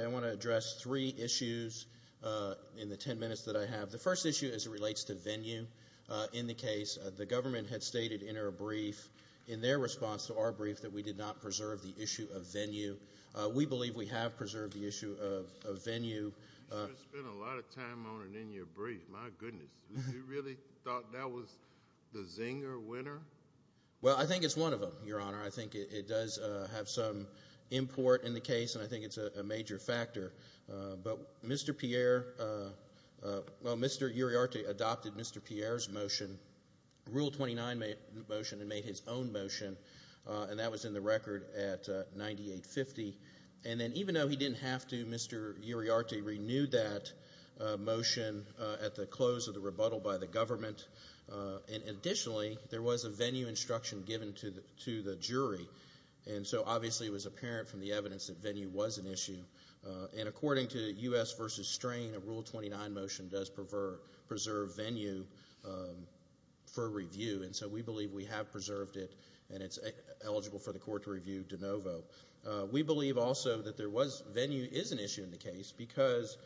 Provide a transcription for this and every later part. I want to address three issues in the ten minutes that I have. The first issue is it relates to venue in the case. The government had stated in their brief, in their response to our brief, that we did not preserve the issue of venue. We believe we have preserved the issue of venue. You should have spent a lot of time on it in your brief, my goodness. You really thought that was the Zinger winner? Well, I think it's one of them, Your Honor. I think it does have some import in the case, and I think it's a major factor. But Mr. Uriarte adopted Mr. Pierre's motion, Rule 29 motion, and made his own motion, and that was in the record at 9850. And then even though he didn't have to, Mr. Uriarte renewed that motion at the close of the rebuttal by the government. And additionally, there was a venue instruction given to the jury. And so obviously it was apparent from the evidence that venue was an issue. And according to U.S. v. Strain, a Rule 29 motion does preserve venue for review. And so we believe we have preserved it, and it's eligible for the court to review de novo. We believe also that venue is an issue in the case because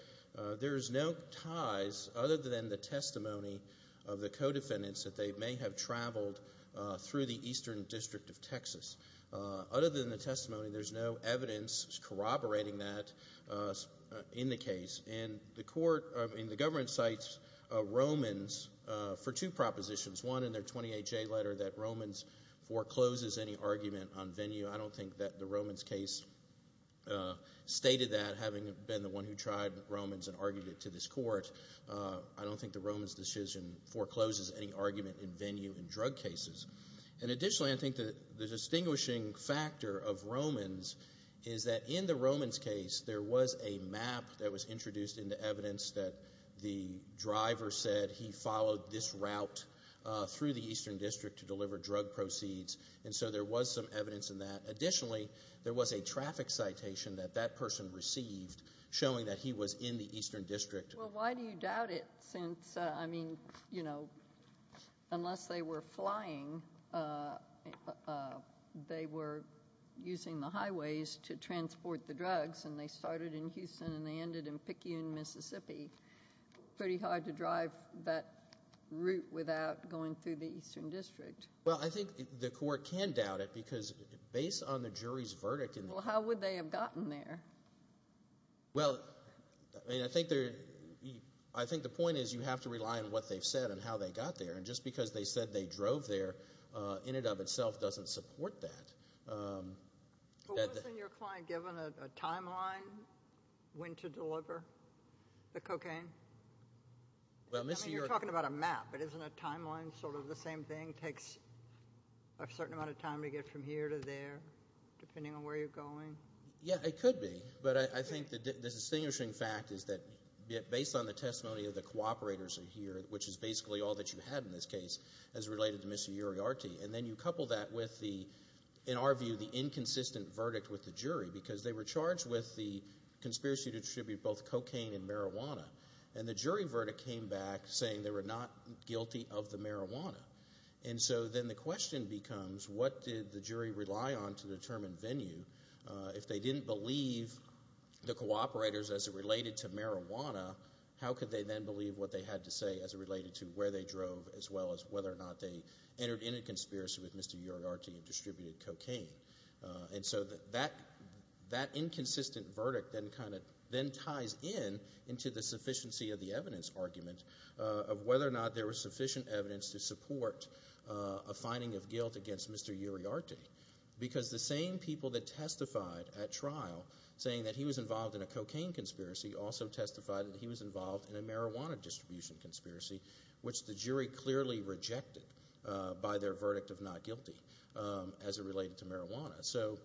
there is no ties other than the testimony of the co-defendants that they may have traveled through the Eastern District of Texas. Other than the testimony, there's no evidence corroborating that in the case. And the court in the government cites Romans for two propositions, one in their 28-J letter that Romans forecloses any argument on venue. I don't think that the Romans case stated that, having been the one who tried Romans and argued it to this court. I don't think the Romans decision forecloses any argument in venue in drug cases. And additionally, I think the distinguishing factor of Romans is that in the Romans case, there was a map that was introduced into evidence that the driver said he followed this route through the Eastern District to deliver drug proceeds. And so there was some evidence in that. Additionally, there was a traffic citation that that person received showing that he was in the Eastern District. Well, why do you doubt it since, I mean, you know, unless they were flying, they were using the highways to transport the drugs, and they started in Houston and they ended in Picayune, Mississippi. Pretty hard to drive that route without going through the Eastern District. Well, I think the court can doubt it because based on the jury's verdict in the court. Well, how would they have gotten there? Well, I mean, I think the point is you have to rely on what they've said and how they got there. And just because they said they drove there in and of itself doesn't support that. But wasn't your client given a timeline when to deliver the cocaine? I mean, you're talking about a map, but isn't a timeline sort of the same thing, takes a certain amount of time to get from here to there depending on where you're going? Yeah, it could be. But I think the distinguishing fact is that based on the testimony of the cooperators here, which is basically all that you had in this case as related to Mr. Uriarte, and then you couple that with the, in our view, the inconsistent verdict with the jury because they were charged with the conspiracy to distribute both cocaine and marijuana. And the jury verdict came back saying they were not guilty of the marijuana. And so then the question becomes what did the jury rely on to determine venue? If they didn't believe the cooperators as it related to marijuana, how could they then believe what they had to say as it related to where they drove as well as whether or not they entered into a conspiracy with Mr. Uriarte and distributed cocaine? And so that inconsistent verdict then ties in into the sufficiency of the evidence argument of whether or not there was sufficient evidence to support a finding of guilt against Mr. Uriarte because the same people that testified at trial saying that he was involved in a cocaine conspiracy also testified that he was involved in a marijuana distribution conspiracy, which the jury clearly rejected by their verdict of not guilty as it related to marijuana. So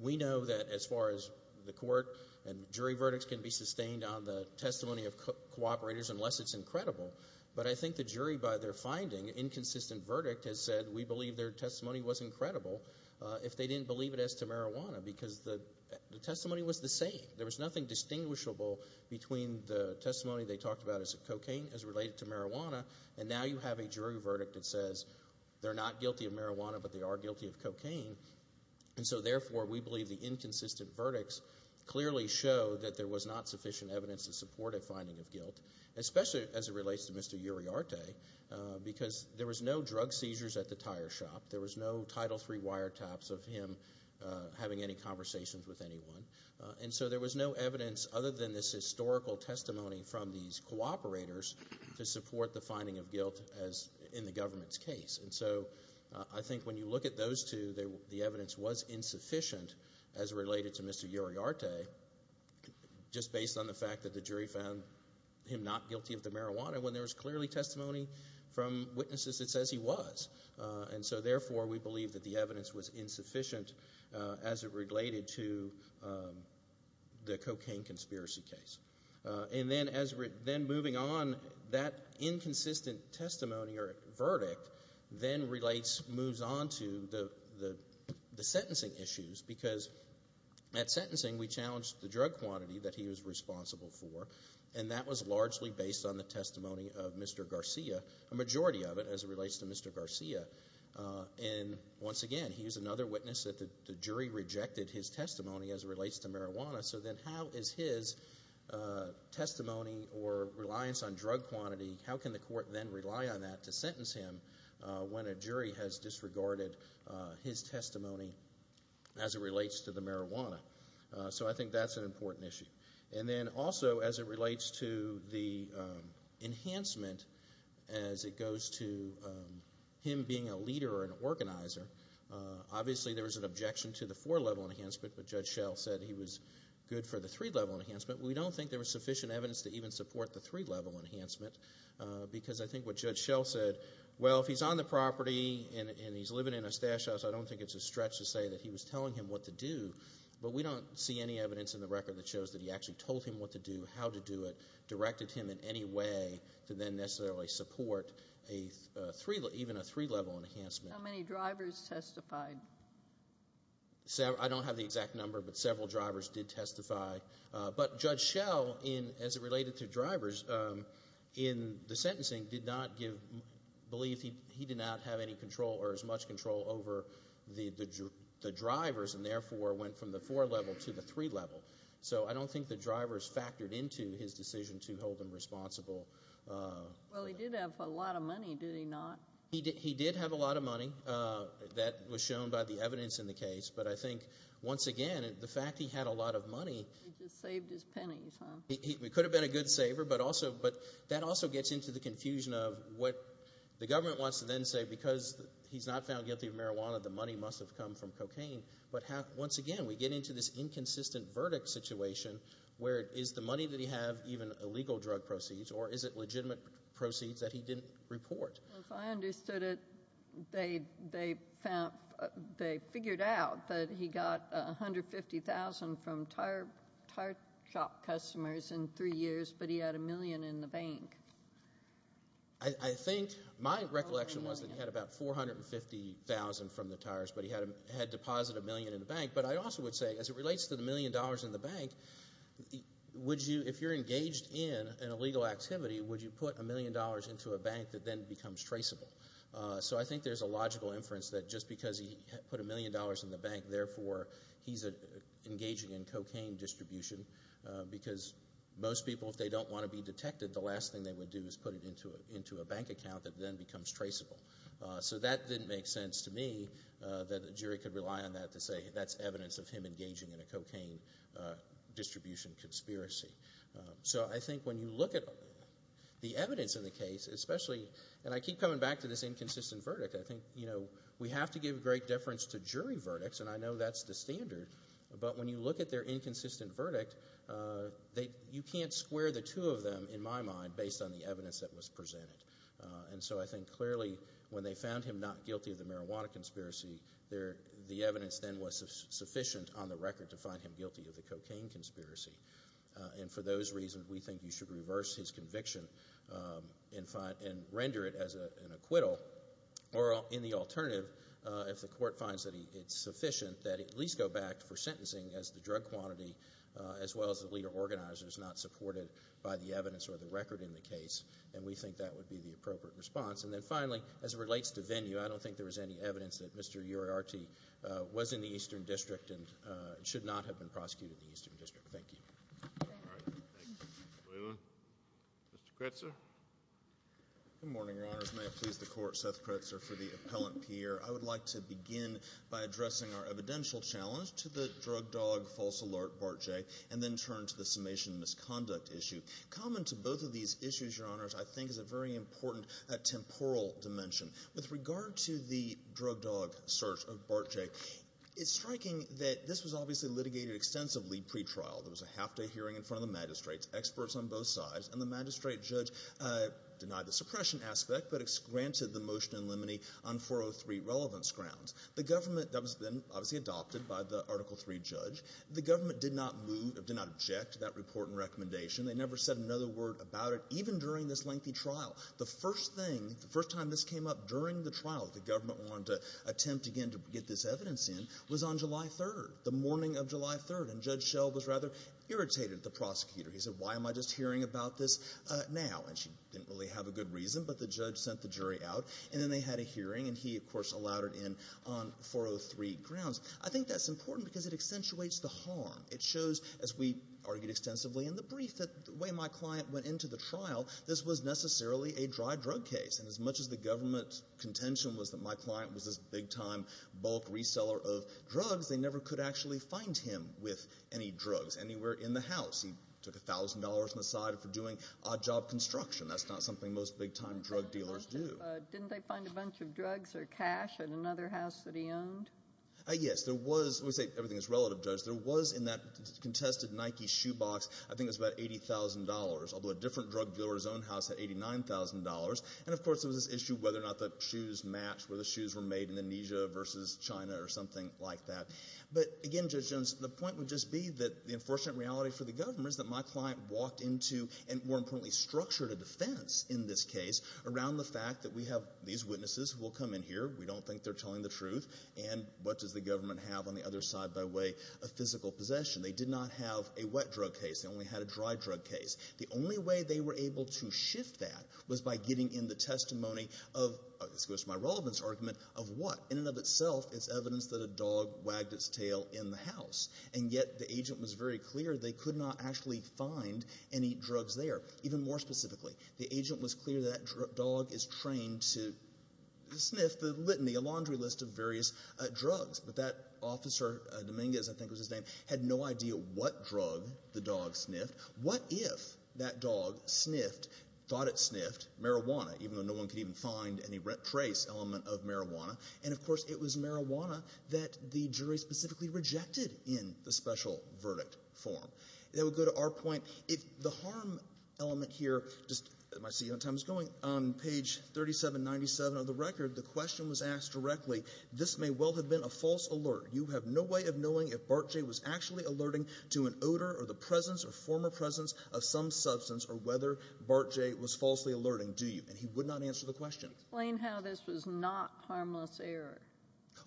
we know that as far as the court and jury verdicts can be sustained on the testimony of cooperators unless it's incredible, but I think the jury, by their finding, inconsistent verdict has said we believe their testimony was incredible if they didn't believe it as to marijuana because the testimony was the same. There was nothing distinguishable between the testimony they talked about as cocaine as it related to marijuana and now you have a jury verdict that says they're not guilty of marijuana but they are guilty of cocaine. And so therefore we believe the inconsistent verdicts clearly show that there was not sufficient evidence to support a finding of guilt, especially as it relates to Mr. Uriarte, because there was no drug seizures at the tire shop. There was no Title III wiretaps of him having any conversations with anyone. And so there was no evidence other than this historical testimony from these cooperators to support the finding of guilt in the government's case. And so I think when you look at those two, the evidence was insufficient as related to Mr. Uriarte just based on the fact that the jury found him not guilty of the marijuana when there was clearly testimony from witnesses that says he was. And so therefore we believe that the evidence was insufficient as it related to the cocaine conspiracy case. And then moving on, that inconsistent testimony or verdict then relates, moves on to the sentencing issues because at sentencing we challenged the drug quantity that he was responsible for and that was largely based on the testimony of Mr. Garcia, a majority of it as it relates to Mr. Garcia. And once again, he was another witness that the jury rejected his testimony as it relates to marijuana. So then how is his testimony or reliance on drug quantity, how can the court then rely on that to sentence him when a jury has disregarded his testimony as it relates to the marijuana? So I think that's an important issue. And then also as it relates to the enhancement as it goes to him being a leader or an organizer, obviously there was an objection to the four-level enhancement, but Judge Schell said he was good for the three-level enhancement. We don't think there was sufficient evidence to even support the three-level enhancement because I think what Judge Schell said, well, if he's on the property and he's living in a stash house, I don't think it's a stretch to say that he was telling him what to do, but we don't see any evidence in the record that shows that he actually told him what to do, how to do it, directed him in any way to then necessarily support even a three-level enhancement. How many drivers testified? I don't have the exact number, but several drivers did testify. But Judge Schell, as it related to drivers, in the sentencing, did not believe he did not have any control or as much control over the drivers and therefore went from the four-level to the three-level. So I don't think the drivers factored into his decision to hold him responsible. Well, he did have a lot of money, did he not? He did have a lot of money. That was shown by the evidence in the case. But I think, once again, the fact he had a lot of money. He just saved his pennies, huh? He could have been a good saver, but that also gets into the confusion of what the government wants to then say because he's not found guilty of marijuana, the money must have come from cocaine. But, once again, we get into this inconsistent verdict situation where is the money that he had even illegal drug proceeds or is it legitimate proceeds that he didn't report? If I understood it, they figured out that he got $150,000 from tar shop customers in three years, but he had $1 million in the bank. I think my recollection was that he had about $450,000 from the tires, but he had deposited $1 million in the bank. But I also would say, as it relates to the $1 million in the bank, if you're engaged in an illegal activity, would you put $1 million into a bank that then becomes traceable? So I think there's a logical inference that just because he put $1 million in the bank, therefore he's engaging in cocaine distribution because most people, if they don't want to be detected, the last thing they would do is put it into a bank account that then becomes traceable. So that didn't make sense to me that a jury could rely on that to say that's evidence of him engaging in a cocaine distribution conspiracy. So I think when you look at the evidence in the case, especially, and I keep coming back to this inconsistent verdict, I think we have to give great deference to jury verdicts, and I know that's the standard, but when you look at their inconsistent verdict, you can't square the two of them, in my mind, based on the evidence that was presented. And so I think clearly when they found him not guilty of the marijuana conspiracy, the evidence then was sufficient on the record to find him guilty of the cocaine conspiracy. And for those reasons, we think you should reverse his conviction and render it as an acquittal. Or in the alternative, if the court finds that it's sufficient, that he at least go back for sentencing as the drug quantity as well as the leader organizer is not supported by the evidence or the record in the case, and we think that would be the appropriate response. And then finally, as it relates to venue, I don't think there was any evidence that Mr. Uriarty was in the Eastern District and should not have been prosecuted in the Eastern District. Thank you. Mr. Gretzer. Good morning, Your Honors. May it please the Court, Seth Gretzer for the appellant here. I would like to begin by addressing our evidential challenge to the drug dog false alert, Bart J., and then turn to the summation misconduct issue. Common to both of these issues, Your Honors, I think is a very important temporal dimension. With regard to the drug dog search of Bart J., it's striking that this was obviously litigated extensively pretrial. There was a half-day hearing in front of the magistrates, experts on both sides, and the magistrate judge denied the suppression aspect but granted the motion in limine on 403 relevance grounds. The government that was then obviously adopted by the Article III judge, the government did not move or did not object to that report and recommendation. They never said another word about it, even during this lengthy trial. The first thing, the first time this came up during the trial that the government wanted to attempt again to get this evidence in was on July 3rd, the morning of July 3rd, and Judge Schell was rather irritated at the prosecutor. He said, Why am I just hearing about this now? And she didn't really have a good reason, but the judge sent the jury out, and then they had a hearing, and he, of course, allowed it in on 403 grounds. I think that's important because it accentuates the harm. It shows, as we argued extensively in the brief, that the way my client went into the trial, this was necessarily a dry drug case, and as much as the government's contention was that my client was this big-time bulk reseller of drugs, they never could actually find him with any drugs anywhere in the house. He took $1,000 from the side for doing odd job construction. That's not something most big-time drug dealers do. Didn't they find a bunch of drugs or cash at another house that he owned? Yes, there was. We say everything is relative, Judge. There was in that contested Nike shoe box, I think it was about $80,000, although a different drug dealer's own house had $89,000, and of course there was this issue whether or not the shoes matched, whether the shoes were made in Indonesia versus China or something like that. But again, Judge Jones, the point would just be that the unfortunate reality for the government is that my client walked into and more importantly structured a defense in this case around the fact that we have these witnesses who will come in here, we don't think they're telling the truth, and what does the government have on the other side by way of physical possession? They did not have a wet drug case. They only had a dry drug case. The only way they were able to shift that was by getting in the testimony of, this goes to my relevance argument, of what? In and of itself, it's evidence that a dog wagged its tail in the house, and yet the agent was very clear they could not actually find any drugs there. Even more specifically, the agent was clear that that dog is trained to sniff the litany, a laundry list of various drugs. But that officer, Dominguez, I think was his name, had no idea what drug the dog sniffed. What if that dog sniffed, thought it sniffed, marijuana, even though no one could even find any trace element of marijuana? And, of course, it was marijuana that the jury specifically rejected in the special verdict form. That would go to our point. If the harm element here, just let me see how time is going. On page 3797 of the record, the question was asked directly, this may well have been a false alert. You have no way of knowing if Bart J. was actually alerting to an odor or the presence or former presence of some substance or whether Bart J. was falsely alerting, do you? And he would not answer the question. Explain how this was not harmless error.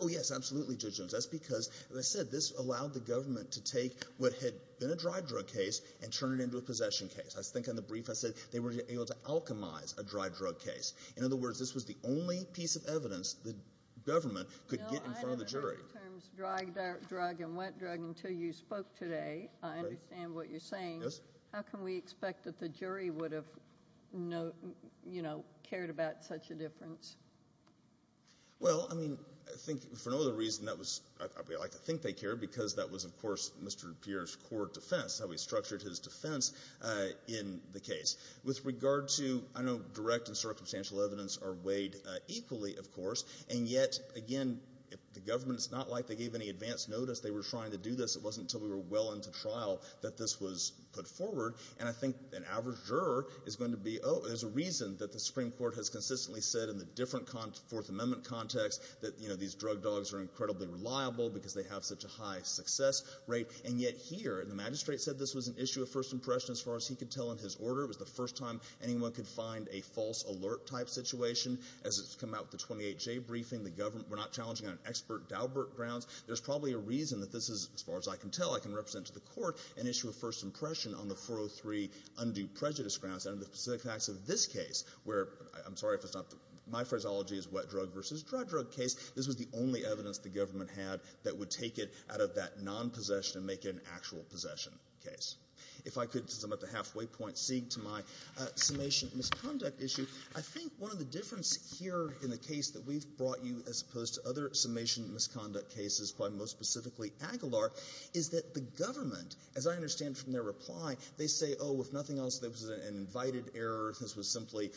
Oh, yes, absolutely, Judge Jones. That's because, as I said, this allowed the government to take what had been a dry drug case and turn it into a possession case. I think in the brief I said they were able to alchemize a dry drug case. In other words, this was the only piece of evidence the government could get in front of the jury. I don't know the terms dry drug and wet drug until you spoke today. I understand what you're saying. Yes. How can we expect that the jury would have, you know, cared about such a difference? Well, I mean, I think for no other reason I would like to think they cared because that was, of course, Mr. Pierre's core defense, how he structured his defense in the case. With regard to, I know direct and circumstantial evidence are weighed equally, of course, and yet, again, if the government is not like they gave any advance notice they were trying to do this, it wasn't until we were well into trial that this was put forward. And I think an average juror is going to be, oh, there's a reason that the Supreme Court has consistently said in the different Fourth Amendment context that, you know, these drug dogs are incredibly reliable because they have such a high success rate. And yet here the magistrate said this was an issue of first impression as far as he could tell in his order. It was the first time anyone could find a false alert type situation. As it's come out with the 28J briefing, the government, we're not challenging on expert Daubert grounds. There's probably a reason that this is, as far as I can tell, I can represent to the Court, an issue of first impression on the 403 undue prejudice grounds. And the specific facts of this case where, I'm sorry if it's not, my phraseology is wet drug versus dry drug case. This was the only evidence the government had that would take it out of that nonpossession and make it an actual possession case. If I could, since I'm at the halfway point, cede to my summation misconduct issue. I think one of the differences here in the case that we've brought you as opposed to other summation misconduct cases, quite most specifically Aguilar, is that the government, as I understand from their reply, they say, oh, if nothing else, that was an invited error. This was simply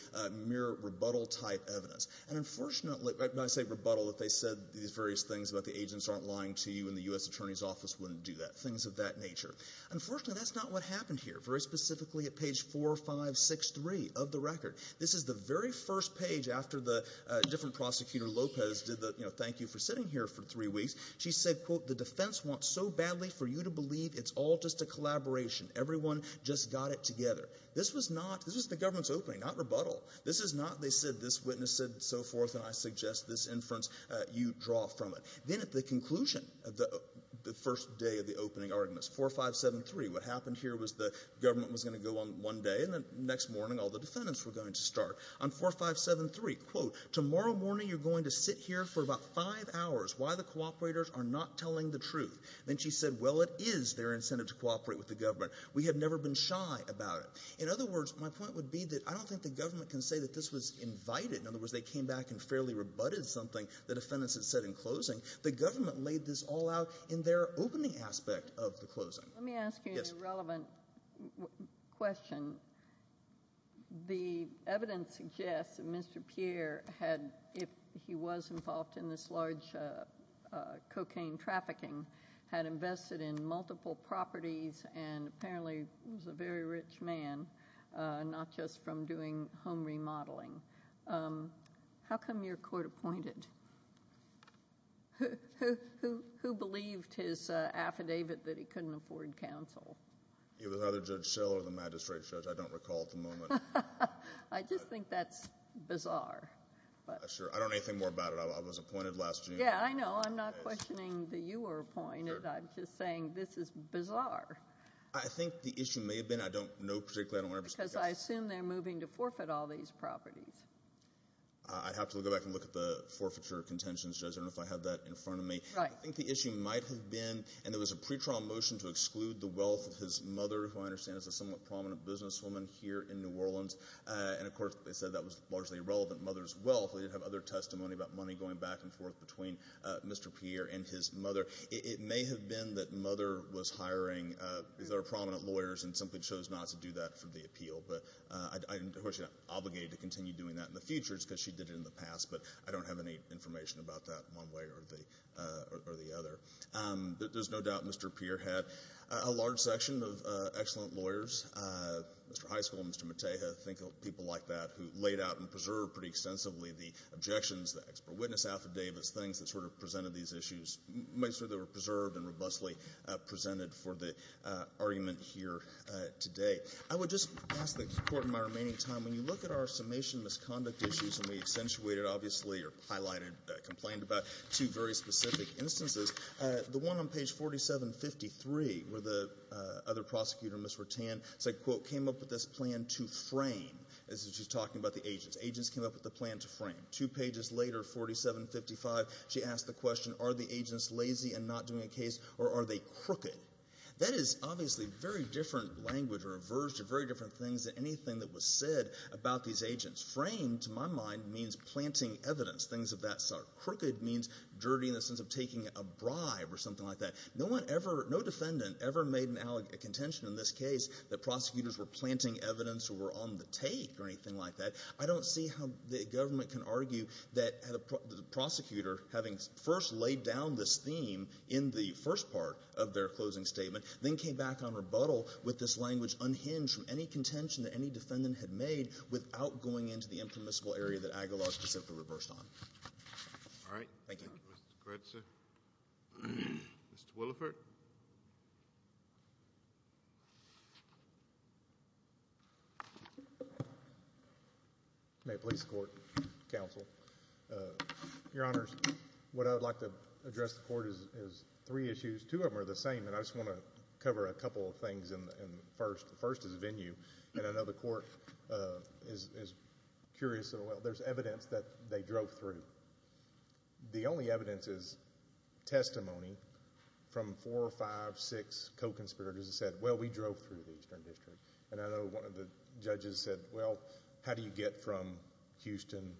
mere rebuttal type evidence. And unfortunately, when I say rebuttal, that they said these various things about the agents aren't lying to you and the U.S. Attorney's Office wouldn't do that, things of that nature. Unfortunately, that's not what happened here, very specifically at page 4563 of the record. This is the very first page after the different prosecutor, Lopez, did the, you know, thank you for sitting here for three weeks. She said, quote, the defense wants so badly for you to believe it's all just a collaboration. Everyone just got it together. This was not, this was the government's opening, not rebuttal. This is not, they said, this witness said so forth and I suggest this inference you draw from it. Then at the conclusion of the first day of the opening arguments, 4573, what happened here was the government was going to go on one day and the next morning all the defendants were going to start. On 4573, quote, tomorrow morning you're going to sit here for about five hours. Why the cooperators are not telling the truth. Then she said, well, it is their incentive to cooperate with the government. We have never been shy about it. In other words, my point would be that I don't think the government can say that this was invited. In other words, they came back and fairly rebutted something the defendants had said in closing. The government laid this all out in their opening aspect of the closing. Let me ask you a relevant question. The evidence suggests that Mr. Pierre had, if he was involved in this large cocaine trafficking, had invested in multiple properties and apparently was a very rich man, not just from doing home remodeling. How come you're court appointed? Who believed his affidavit that he couldn't afford counsel? It was either Judge Schiller or the magistrate's judge. I don't recall at the moment. I just think that's bizarre. I don't know anything more about it. I was appointed last June. Yeah, I know. I'm not questioning that you were appointed. I'm just saying this is bizarre. I think the issue may have been, I don't know particularly. Because I assume they're moving to forfeit all these properties. I'd have to go back and look at the forfeiture contentions, Judge. I don't know if I have that in front of me. Right. I think the issue might have been, and there was a pretrial motion to exclude the wealth of his mother, who I understand is a somewhat prominent businesswoman here in New Orleans. And, of course, they said that was largely irrelevant, mother's wealth. They did have other testimony about money going back and forth between Mr. Pierre and his mother. It may have been that mother was hiring these other prominent lawyers and simply chose not to do that for the appeal. But I'm, of course, not obligated to continue doing that in the future. It's because she did it in the past. But I don't have any information about that one way or the other. There's no doubt Mr. Pierre had a large section of excellent lawyers, Mr. Highschool and Mr. Mateja, people like that, who laid out and preserved pretty extensively the objections, the expert witness affidavits, things that sort of presented these issues, made sure they were preserved and robustly presented for the argument here today. I would just ask the Court in my remaining time, when you look at our summation misconduct issues, and we accentuated, obviously, or highlighted, complained about two very specific instances, the one on page 4753 where the other prosecutor, Ms. Rutan, said, quote, came up with this plan to frame, as she's talking about the agents. Agents came up with the plan to frame. Two pages later, 4755, she asked the question, are the agents lazy and not doing a case, or are they crooked? That is obviously very different language or averse to very different things than anything that was said about these agents. Framed, to my mind, means planting evidence, things of that sort. Crooked means dirty in the sense of taking a bribe or something like that. No defendant ever made a contention in this case that prosecutors were planting evidence or were on the take or anything like that. I don't see how the government can argue that the prosecutor, having first laid down this theme in the first part of their closing statement, then came back on rebuttal with this language unhinged from any contention that any defendant had made without going into the impermissible area that Aguilar specifically reversed on. All right. Thank you. Mr. Gretzer. Mr. Williford. May it please the Court, Counsel. Your Honors, what I would like to address to the Court is three issues. Two of them are the same, and I just want to cover a couple of things first. The first is venue, and I know the Court is curious as well. There's evidence that they drove through. The only evidence is testimony from four or five, six co-conspirators that said, well, we drove through the Eastern District. And I know one of the judges said, well, how do you get from Houston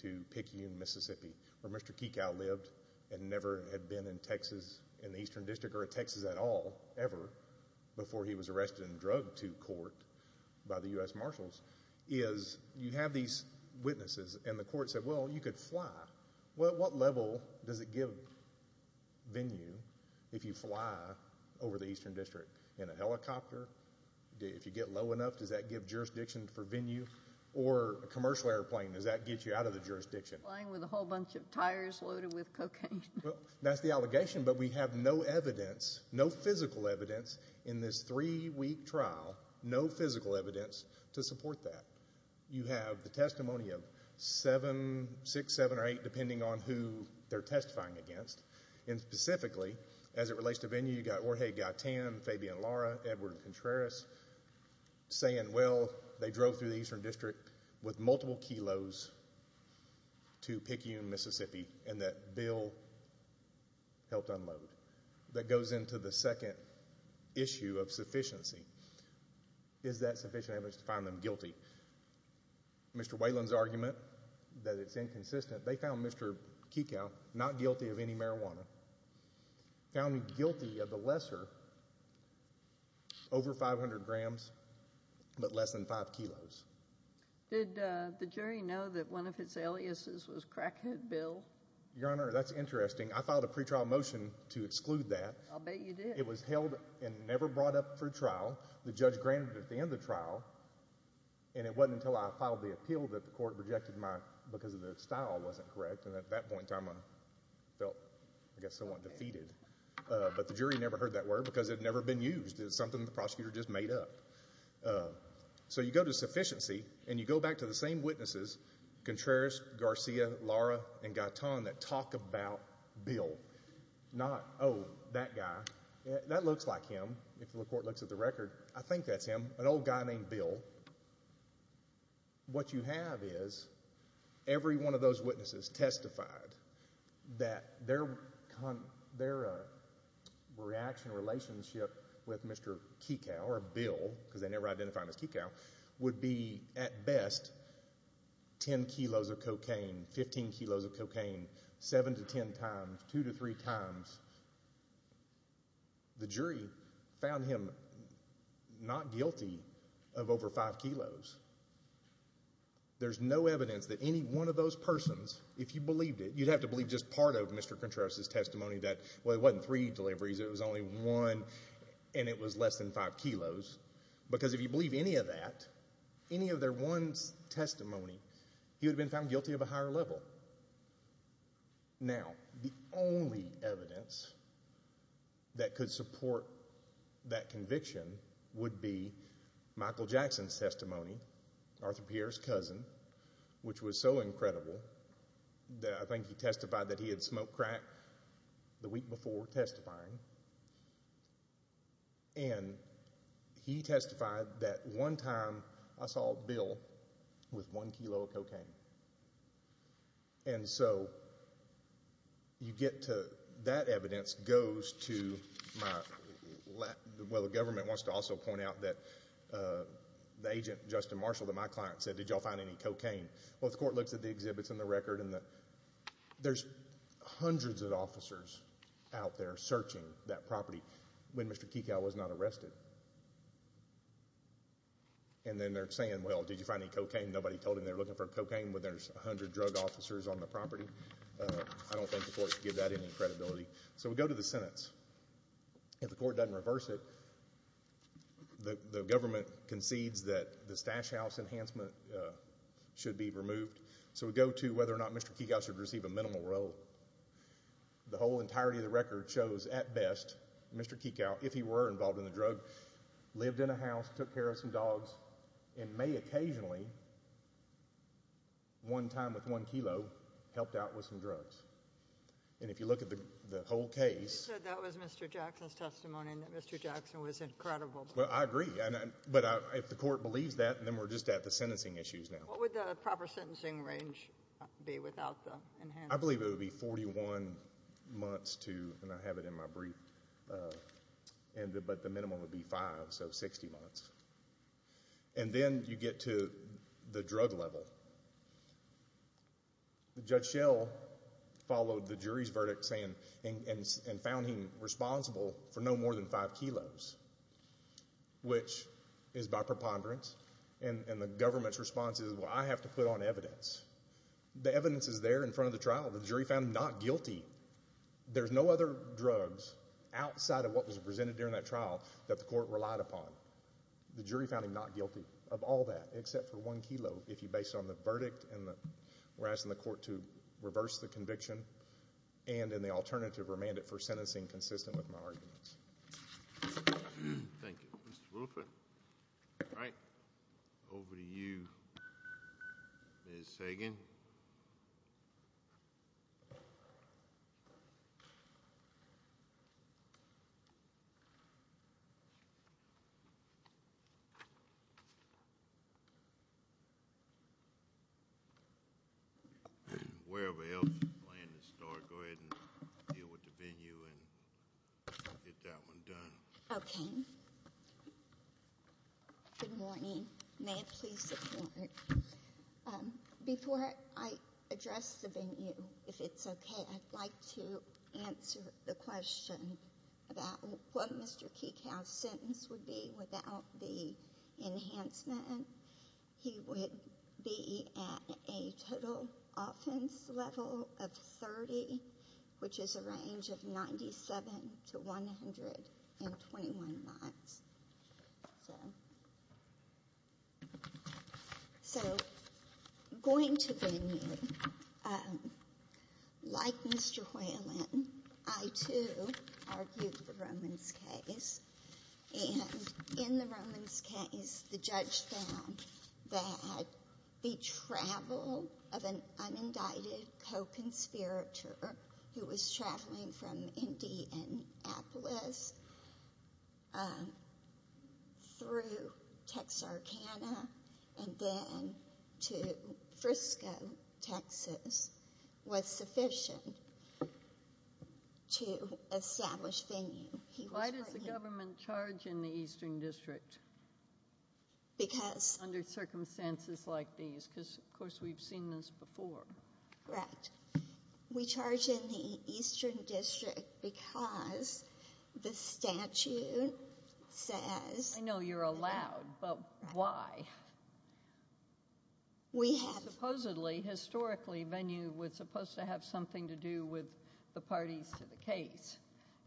to Picayune, Mississippi, where Mr. Kekau lived and never had been in Texas, in the Eastern District or in Texas at all, ever, before he was arrested and drugged to court by the U.S. Marshals, is you have these witnesses, and the Court said, well, you could fly. Well, what level does it give venue if you fly over the Eastern District in a helicopter? If you get low enough, does that give jurisdiction for venue? Or a commercial airplane, does that get you out of the jurisdiction? Flying with a whole bunch of tires loaded with cocaine. That's the allegation, but we have no evidence, no physical evidence in this three-week trial, no physical evidence to support that. You have the testimony of seven, six, seven or eight, depending on who they're testifying against. And specifically, as it relates to venue, you've got Jorge Gaitan, Fabian Lara, Edward Contreras saying, well, they drove through the Eastern District with multiple kilos to Picayune, Mississippi, and that bill helped unload. That goes into the second issue of sufficiency. Is that sufficient evidence to find them guilty? Mr. Whalen's argument that it's inconsistent. They found Mr. Kikau not guilty of any marijuana. Found guilty of the lesser, over 500 grams, but less than five kilos. Did the jury know that one of his aliases was crackhead, Bill? Your Honor, that's interesting. I filed a pretrial motion to exclude that. I'll bet you did. It was held and never brought up for trial. The judge granted it at the end of the trial, and it wasn't until I filed the appeal that the court rejected mine because the style wasn't correct, and at that point in time I felt, I guess, somewhat defeated. But the jury never heard that word because it had never been used. It was something the prosecutor just made up. So you go to sufficiency, and you go back to the same witnesses, Contreras, Garcia, Lara, and Gaitan, that talk about Bill, not, oh, that guy. That looks like him, if the court looks at the record. I think that's him, an old guy named Bill. What you have is every one of those witnesses testified that their reaction or relationship with Mr. Kikau, or Bill because they never identified him as Kikau, would be, at best, 10 kilos of cocaine, 15 kilos of cocaine, 7 to 10 times, 2 to 3 times. The jury found him not guilty of over 5 kilos. There's no evidence that any one of those persons, if you believed it, you'd have to believe just part of Mr. Contreras' testimony that, well, it wasn't three deliveries. It was only one, and it was less than 5 kilos because if you believe any of that, any of their one testimony, he would have been found guilty of a higher level. Now, the only evidence that could support that conviction would be Michael Jackson's testimony, Arthur Pierre's cousin, which was so incredible that I think he testified that he had smoked crack the week before testifying, and he testified that one time I saw Bill with one kilo of cocaine. And so you get to that evidence goes to my, well, the government wants to also point out that the agent, Justin Marshall, that my client said, did y'all find any cocaine? Well, the court looks at the exhibits and the record, and there's hundreds of officers out there searching that property when Mr. Kekal was not arrested. And then they're saying, well, did you find any cocaine? Nobody told him they were looking for cocaine when there's 100 drug officers on the property. I don't think the court should give that any credibility. So we go to the sentence. If the court doesn't reverse it, the government concedes that the stash house enhancement should be removed. So we go to whether or not Mr. Kekal should receive a minimal role. The whole entirety of the record shows, at best, Mr. Kekal, if he were involved in the drug, lived in a house, took care of some dogs, and may occasionally, one time with one kilo, helped out with some drugs. And if you look at the whole case— You said that was Mr. Jackson's testimony and that Mr. Jackson was incredible. Well, I agree. But if the court believes that, then we're just at the sentencing issues now. What would the proper sentencing range be without the enhancement? I believe it would be 41 months to—and I have it in my brief—but the minimum would be five, so 60 months. And then you get to the drug level. Judge Schell followed the jury's verdict and found him responsible for no more than five kilos, which is by preponderance, and the government's response is, well, I have to put on evidence. The evidence is there in front of the trial. The jury found him not guilty. There's no other drugs outside of what was presented during that trial that the court relied upon. The jury found him not guilty of all that, except for one kilo, if you base it on the verdict and we're asking the court to reverse the conviction and in the alternative remand it for sentencing consistent with my arguments. Thank you. Mr. Wolfe? All right. Over to you, Ms. Hagan. Wherever else you plan to start, go ahead and deal with the venue and get that one done. Okay. Good morning. May I please support? Before I address the venue, if it's okay, I'd like to answer the question about what Mr. Kekau's sentence would be without the enhancement. He would be at a total offense level of 30, which is a range of 97 to 121 months. So going to venue, like Mr. Hoyland, I, too, argued the Romans case, and in the Romans case the judge found that the travel of an unindicted co-conspirator who was traveling from Indianapolis through Texarkana and then to Frisco, Texas, was sufficient to establish venue. Why does the government charge in the Eastern District under circumstances like these? Because, of course, we've seen this before. Correct. We charge in the Eastern District because the statute says— I know you're allowed, but why? We have— Supposedly, historically, venue was supposed to have something to do with the parties to the case,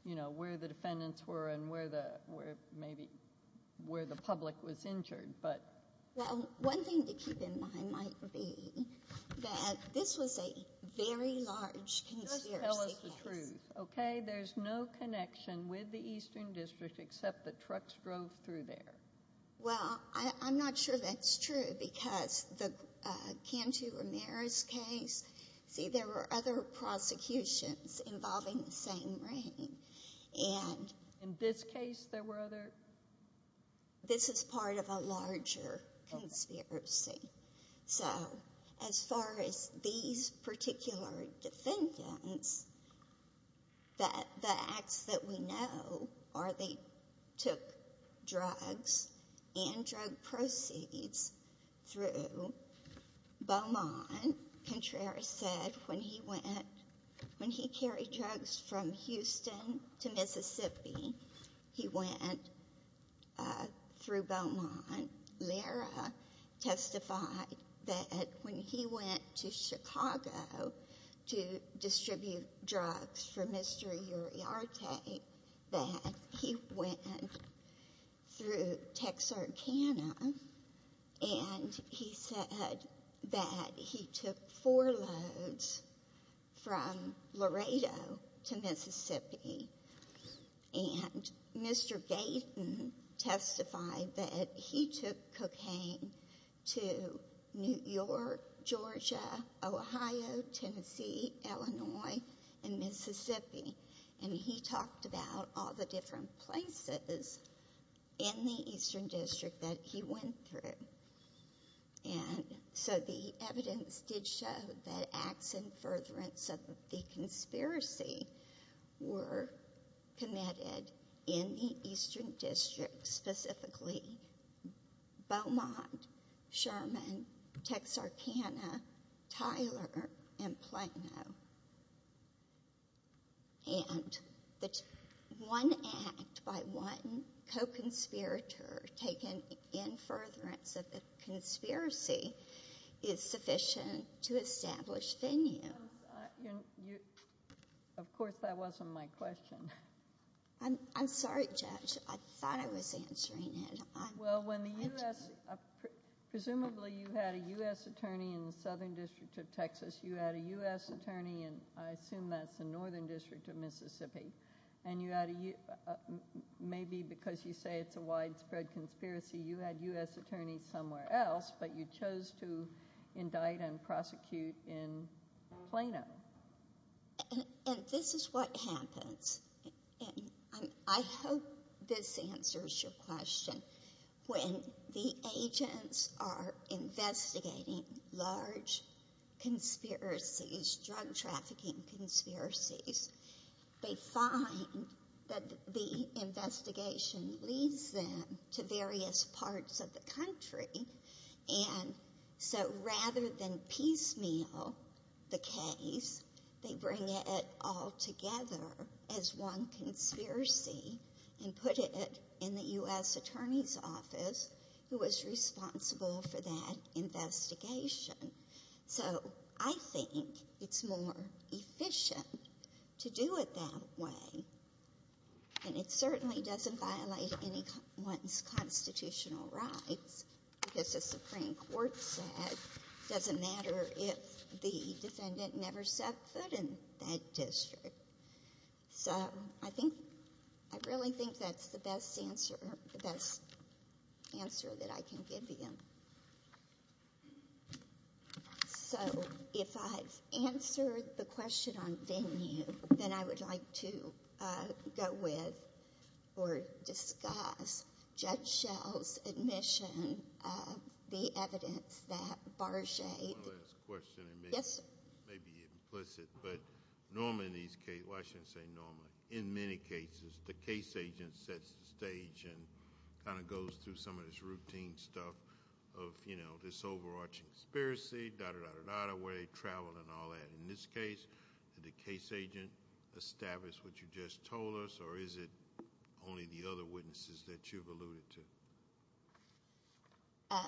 you know, where the defendants were and where the public was injured. Well, one thing to keep in mind might be that this was a very large conspiracy case. Just tell us the truth, okay? There's no connection with the Eastern District except that trucks drove through there. Well, I'm not sure that's true because the Cantu Ramirez case, see, there were other prosecutions involving the same ring. In this case, there were other— This is part of a larger conspiracy. So as far as these particular defendants, the acts that we know are they took drugs and drug proceeds through Beaumont. Contreras said when he went— through Beaumont, Lera testified that when he went to Chicago to distribute drugs for Mr. Uriarte that he went through Texarkana and he said that he took four loads from Laredo to Mississippi. And Mr. Gayton testified that he took cocaine to New York, Georgia, Ohio, Tennessee, Illinois, and Mississippi. And he talked about all the different places in the Eastern District that he went through. And so the evidence did show that acts in furtherance of the conspiracy were committed in the Eastern District, specifically Beaumont, Sherman, Texarkana, Tyler, and Plano. And one act by one co-conspirator taken in furtherance of the conspiracy is sufficient to establish venue. Of course, that wasn't my question. I'm sorry, Judge. I thought I was answering it. Well, when the U.S.— Presumably, you had a U.S. attorney in the Southern District of Texas. You had a U.S. attorney in—I assume that's the Northern District of Mississippi. And you had a—maybe because you say it's a widespread conspiracy, you had U.S. attorneys somewhere else, but you chose to indict and prosecute in Plano. And this is what happens, and I hope this answers your question. When the agents are investigating large conspiracies, drug-trafficking conspiracies, they find that the investigation leads them to various parts of the country. And so rather than piecemeal the case, they bring it all together as one conspiracy and put it in the U.S. attorney's office, who is responsible for that investigation. So I think it's more efficient to do it that way. And it certainly doesn't violate anyone's constitutional rights, because the Supreme Court said it doesn't matter if the defendant never set foot in that district. So I think—I really think that's the best answer that I can give you. So if I've answered the question on venue, then I would like to go with or discuss Judge Schell's admission of the evidence that Barges— One last question. Yes. It may be implicit, but normally in these cases—well, I shouldn't say normally. In many cases, the case agent sets the stage and kind of goes through some of this routine stuff of, you know, this overarching conspiracy, da-da-da-da-da-da, where they traveled and all that. In this case, did the case agent establish what you just told us, or is it only the other witnesses that you've alluded to? I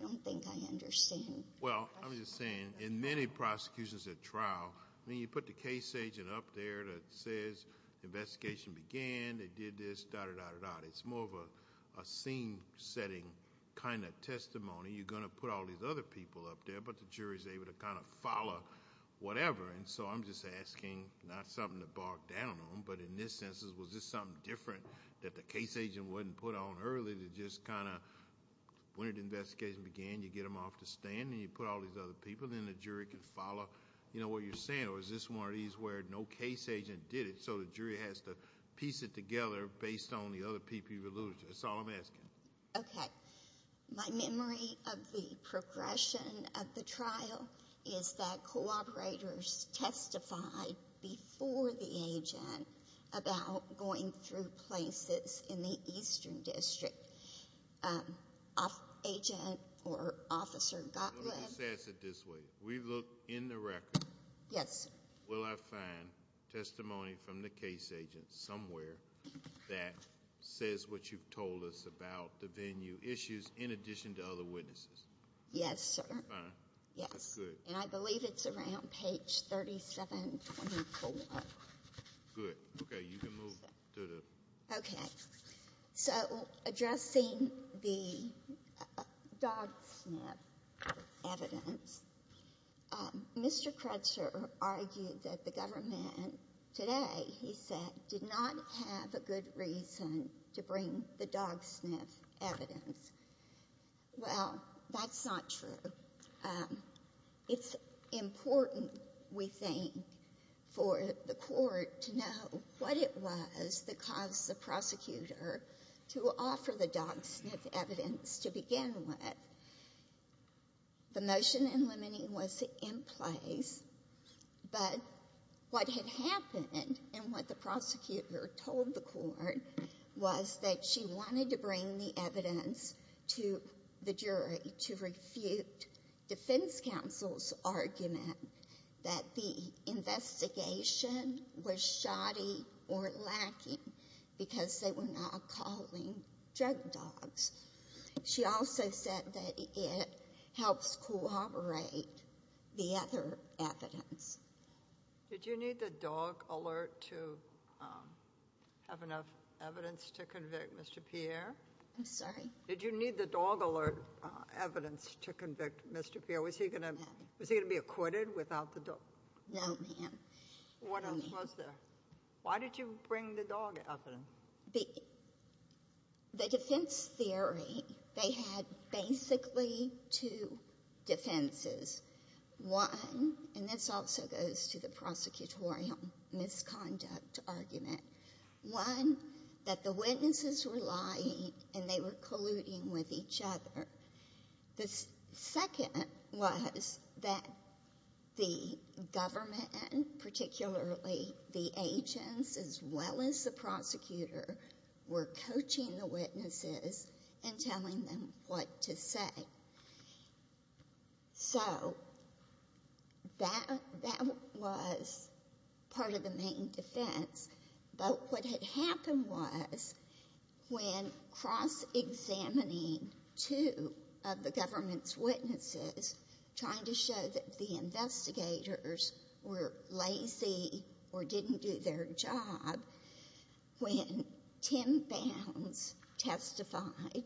don't think I understand. Well, I'm just saying, in many prosecutions at trial, I mean, you put the case agent up there that says the investigation began, they did this, da-da-da-da-da. It's more of a scene-setting kind of testimony. You're going to put all these other people up there, but the jury's able to kind of follow whatever. And so I'm just asking, not something to bark down on, but in this sense, was this something different that the case agent wouldn't put on early to just kind of— when the investigation began, you get them off the stand and you put all these other people, then the jury can follow, you know, what you're saying, or is this one of these where no case agent did it, so the jury has to piece it together based on the other people you've alluded to? That's all I'm asking. Okay. My memory of the progression of the trial is that cooperators testified before the agent about going through places in the Eastern District. Agent or Officer Gottlieb— Let me just ask it this way. We look in the record. Yes, sir. Will I find testimony from the case agent somewhere that says what you've told us about the venue issues in addition to other witnesses? Yes, sir. Fine. That's good. And I believe it's around page 3724. Good. Okay. You can move to the— Okay. So addressing the dog sniff evidence, Mr. Crutcher argued that the government today, he said, did not have a good reason to bring the dog sniff evidence. Well, that's not true. It's important, we think, for the court to know what it was that caused the prosecutor to offer the dog sniff evidence to begin with. The motion in limiting was in place, but what had happened and what the prosecutor told the court was that she wanted to bring the evidence to the jury to refute defense counsel's argument that the investigation was shoddy or lacking because they were not calling drug dogs. She also said that it helps corroborate the other evidence. Did you need the dog alert to have enough evidence to convict Mr. Pierre? I'm sorry? Did you need the dog alert evidence to convict Mr. Pierre? Was he going to be acquitted without the dog alert? No, ma'am. What else was there? Why did you bring the dog evidence? The defense theory, they had basically two defenses. One, and this also goes to the prosecutorial misconduct argument, one, that the witnesses were lying and they were colluding with each other. The second was that the government, particularly the agents as well as the prosecutor, were coaching the witnesses and telling them what to say. So that was part of the main defense, but what had happened was when cross-examining two of the government's witnesses, trying to show that the investigators were lazy or didn't do their job, when Tim Bounds testified,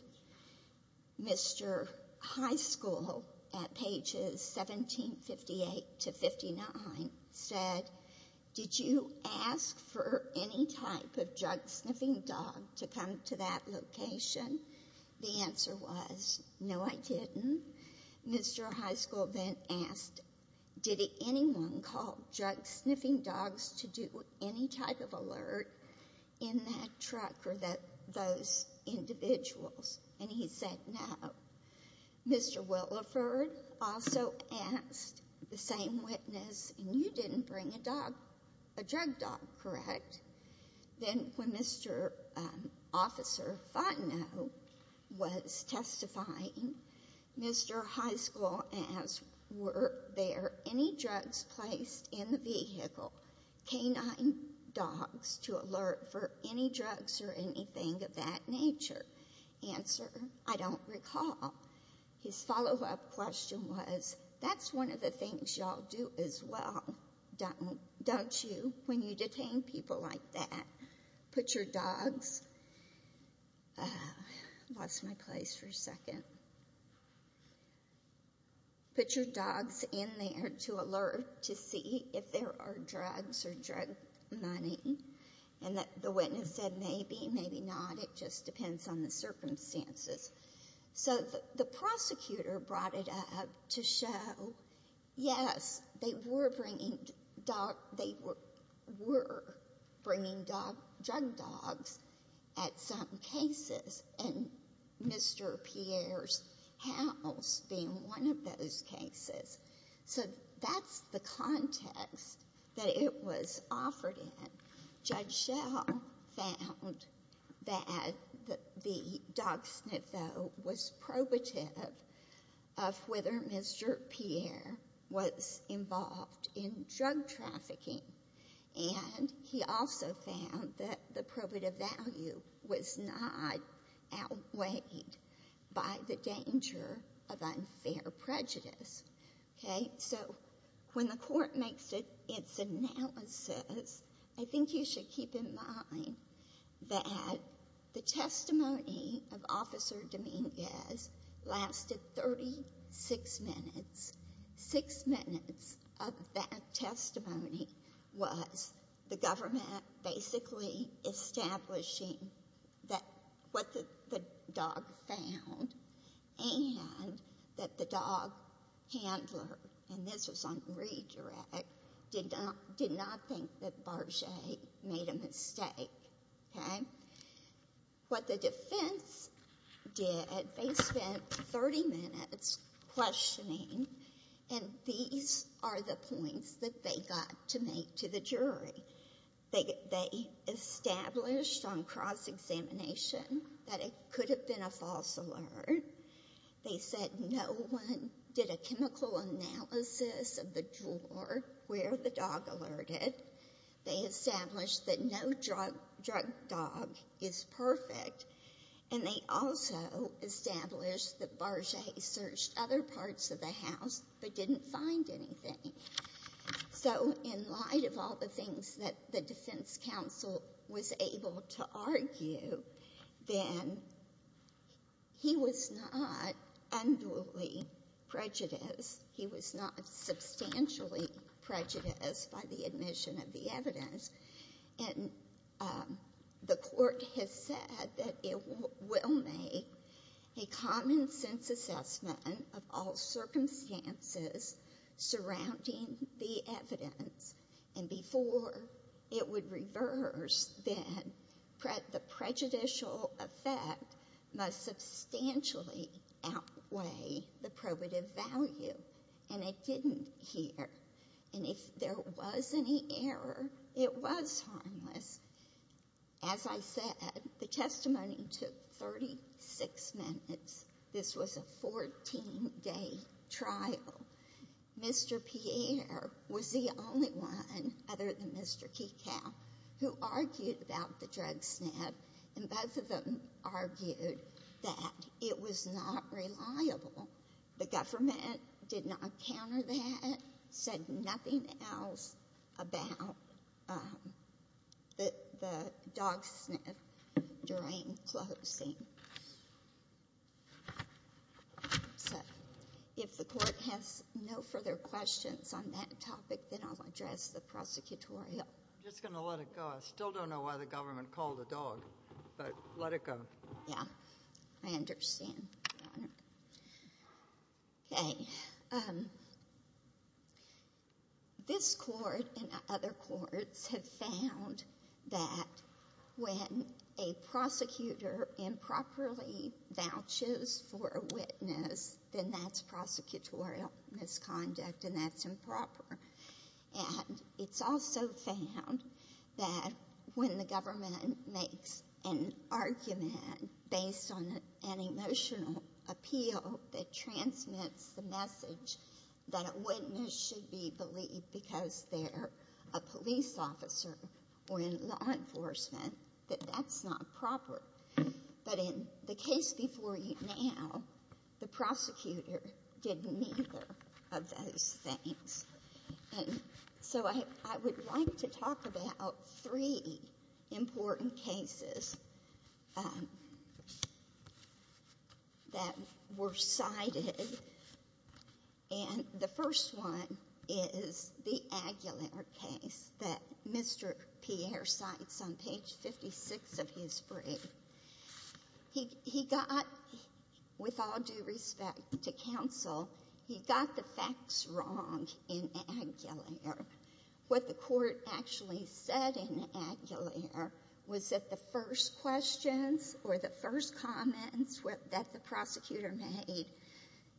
Mr. High School, at pages 1758 to 59, said, did you ask for any type of drug-sniffing dog to come to that location? The answer was, no, I didn't. Mr. High School then asked, did anyone call drug-sniffing dogs to do any type of alert in that truck or those individuals? And he said, no. Mr. Williford also asked the same witness, and you didn't bring a drug dog, correct? Then when Mr. Officer Fontenot was testifying, Mr. High School asked, were there any drugs placed in the vehicle, canine dogs, to alert for any drugs or anything of that nature? Answer, I don't recall. His follow-up question was, that's one of the things y'all do as well, don't you, when you detain people like that, put your dogs in there to alert, to see if there are drugs or drug money. And the witness said, maybe, maybe not, it just depends on the circumstances. So the prosecutor brought it up to show, yes, they were bringing drug dogs at some cases, and Mr. Pierre's house being one of those cases. So that's the context that it was offered in. Judge Schell found that the dog sniff, though, was probative of whether Mr. Pierre was involved in drug trafficking. And he also found that the probative value was not outweighed by the danger of unfair prejudice. So when the court makes its analysis, I think you should keep in mind that the testimony of Officer Dominguez lasted 36 minutes. Six minutes of that testimony was the government basically establishing what the dog found and that the dog handler, and this was on redirect, did not think that Barge made a mistake. What the defense did, they spent 30 minutes questioning, and these are the points that they got to make to the jury. They established on cross-examination that it could have been a false alert. They said no one did a chemical analysis of the drawer where the dog alerted. They established that no drug dog is perfect. And they also established that Barge searched other parts of the house but didn't find anything. So in light of all the things that the defense counsel was able to argue, then he was not unduly prejudiced. He was not substantially prejudiced by the admission of the evidence. And the court has said that it will make a common-sense assessment of all circumstances surrounding the evidence. And before it would reverse, then, the prejudicial effect must substantially outweigh the probative value. And it didn't here. And if there was any error, it was harmless. As I said, the testimony took 36 minutes. This was a 14-day trial. Mr. Pierre was the only one, other than Mr. Kekau, who argued about the drug snag, and both of them argued that it was not reliable. The government did not counter that, said nothing else about the dog sniff during closing. So if the court has no further questions on that topic, then I'll address the prosecutorial. I'm just going to let it go. I still don't know why the government called the dog, but let it go. Yeah, I understand, Your Honor. Okay. This court and other courts have found that when a prosecutor improperly vouches for a witness, then that's prosecutorial misconduct and that's improper. And it's also found that when the government makes an argument based on an emotional appeal that transmits the message that a witness should be believed because they're a police officer or in law enforcement, that that's not proper. But in the case before you now, the prosecutor did neither of those things. And so I would like to talk about three important cases that were cited. And the first one is the Aguilar case that Mr. Pierre cites on page 56 of his brief. He got, with all due respect to counsel, he got the facts wrong in Aguilar. What the court actually said in Aguilar was that the first questions or the first comments that the prosecutor made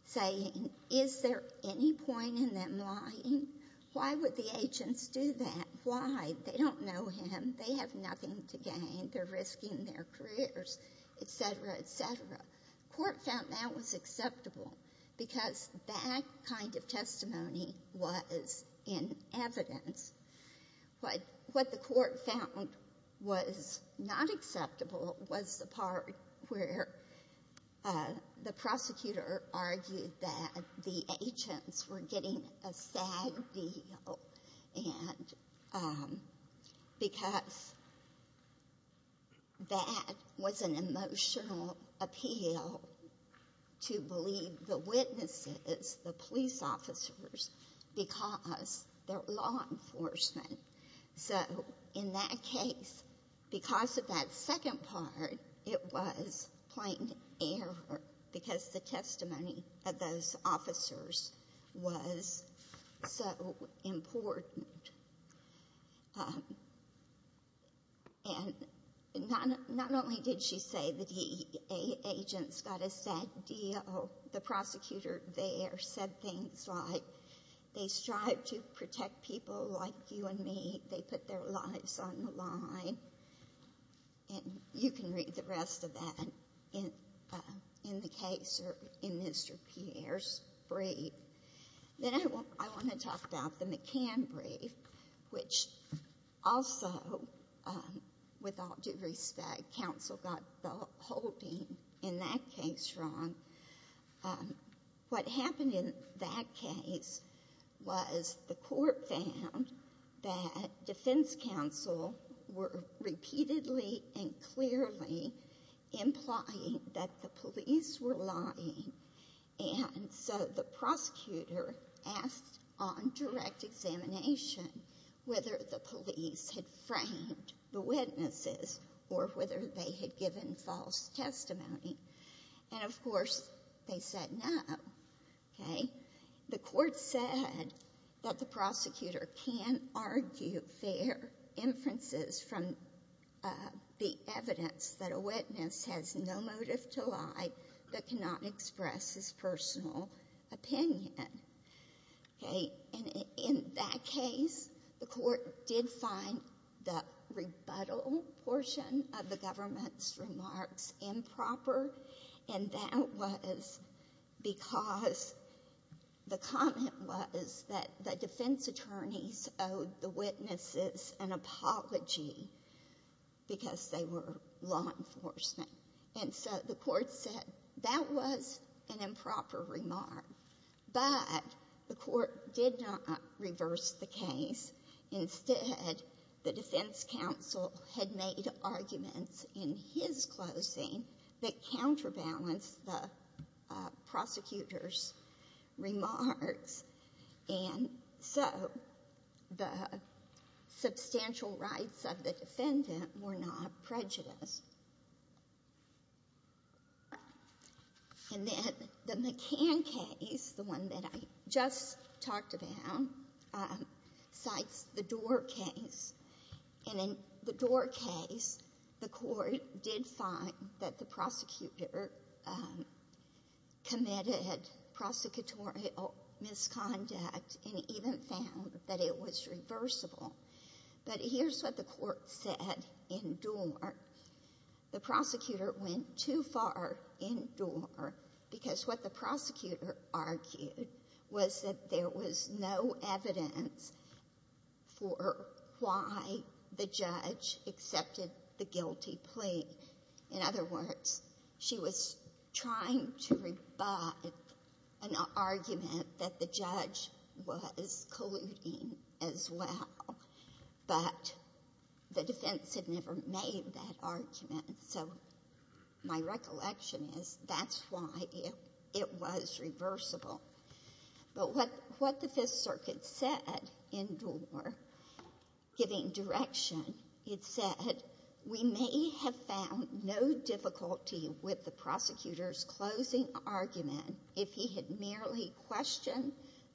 saying, is there any point in them lying? Why would the agents do that? Why? They don't know him. They have nothing to gain. They're risking their careers, et cetera, et cetera. The court found that was acceptable because that kind of testimony was in evidence. What the court found was not acceptable was the part where the prosecutor argued that the agents were getting a sad deal because that was an emotional appeal to believe the witnesses, the police officers, because they're law enforcement. So in that case, because of that second part, it was point and error because the testimony of those officers was so important. And not only did she say that the agents got a sad deal, the prosecutor there said things like, they strive to protect people like you and me. They put their lives on the line. And you can read the rest of that in the case or in Mr. Pierre's brief. Then I want to talk about the McCann brief, which also, with all due respect, counsel got the holding in that case wrong. What happened in that case was the court found that defense counsel were repeatedly and clearly implying that the police were lying. And so the prosecutor asked on direct examination whether the police had framed the witnesses or whether they had given false testimony. And, of course, they said no. The court said that the prosecutor can argue fair inferences from the evidence that a witness has no motive to lie but cannot express his personal opinion. Okay. And in that case, the court did find the rebuttal portion of the government's remarks improper. And that was because the comment was that the defense attorneys owed the witnesses an apology because they were law enforcement. And so the court said that was an improper remark. But the court did not reverse the case. Instead, the defense counsel had made arguments in his closing that counterbalanced the prosecutor's remarks. And so the substantial rights of the defendant were not prejudiced. And then the McCann case, the one that I just talked about, cites the Doar case. And in the Doar case, the court did find that the prosecutor committed prosecutorial misconduct and even found that it was reversible. But here's what the court said in Doar. The prosecutor went too far in Doar because what the prosecutor argued was that there was no evidence for why the judge accepted the guilty plea. In other words, she was trying to revive an argument that the judge was colluding as well. But the defense had never made that argument. So my recollection is that's why it was reversible. But what the Fifth Circuit said in Doar, giving direction, it said, we may have found no difficulty with the prosecutor's closing argument if he had merely questioned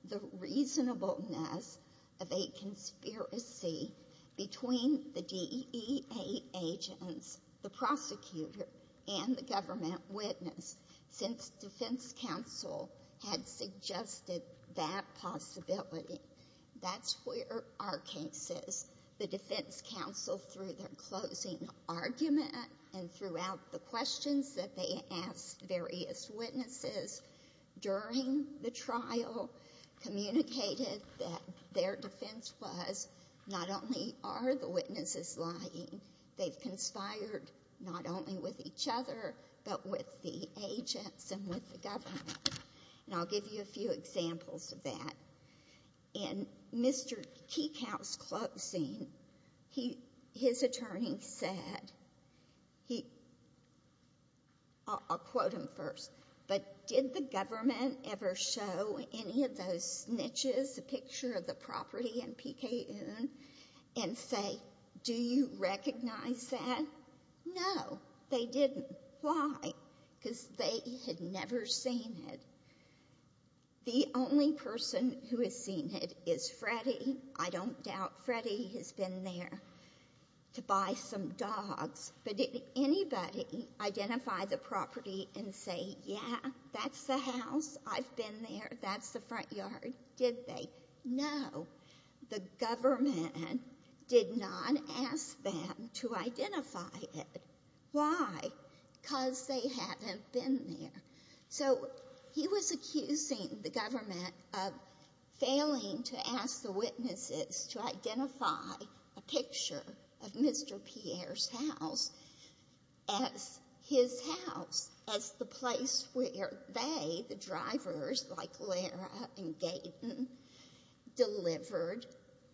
the reasonableness of a conspiracy between the DEA agents, the prosecutor, and the government witness, since defense counsel had suggested that possibility. That's where our case is. The defense counsel, through their closing argument and throughout the questions that they asked various witnesses during the trial, communicated that their defense was, not only are the witnesses lying, they've conspired not only with each other but with the agents and with the government. And I'll give you a few examples of that. In Mr. Keekhous' closing, his attorney said, I'll quote him first, but did the government ever show any of those snitches a picture of the property in P.K. Oon and say, do you recognize that? No, they didn't. Why? Because they had never seen it. The only person who has seen it is Freddy. I don't doubt Freddy has been there to buy some dogs. But did anybody identify the property and say, yeah, that's the house. I've been there. That's the front yard. Did they? No. The government did not ask them to identify it. Why? Because they hadn't been there. So he was accusing the government of failing to ask the witnesses to identify a picture of Mr. Pierre's house as his house, as the place where they, the drivers, like Lara and Gaten, delivered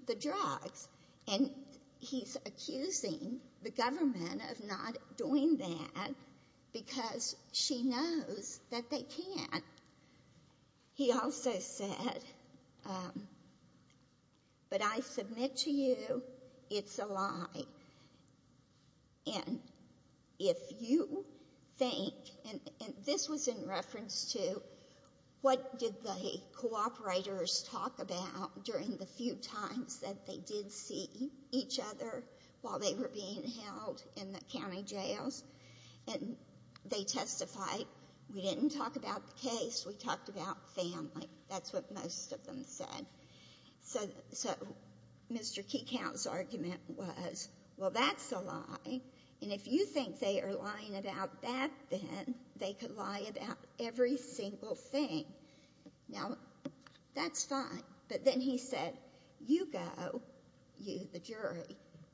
the drugs. And he's accusing the government of not doing that because she knows that they can't. He also said, but I submit to you it's a lie. And if you think, and this was in reference to what did the cooperators talk about during the few times that they did see each other while they were being held in the county jails, and they testified, we didn't talk about the case. We talked about family. That's what most of them said. So Mr. Kekau's argument was, well, that's a lie. And if you think they are lying about that, then they could lie about every single thing. Now, that's fine. But then he said, you go, you the jury.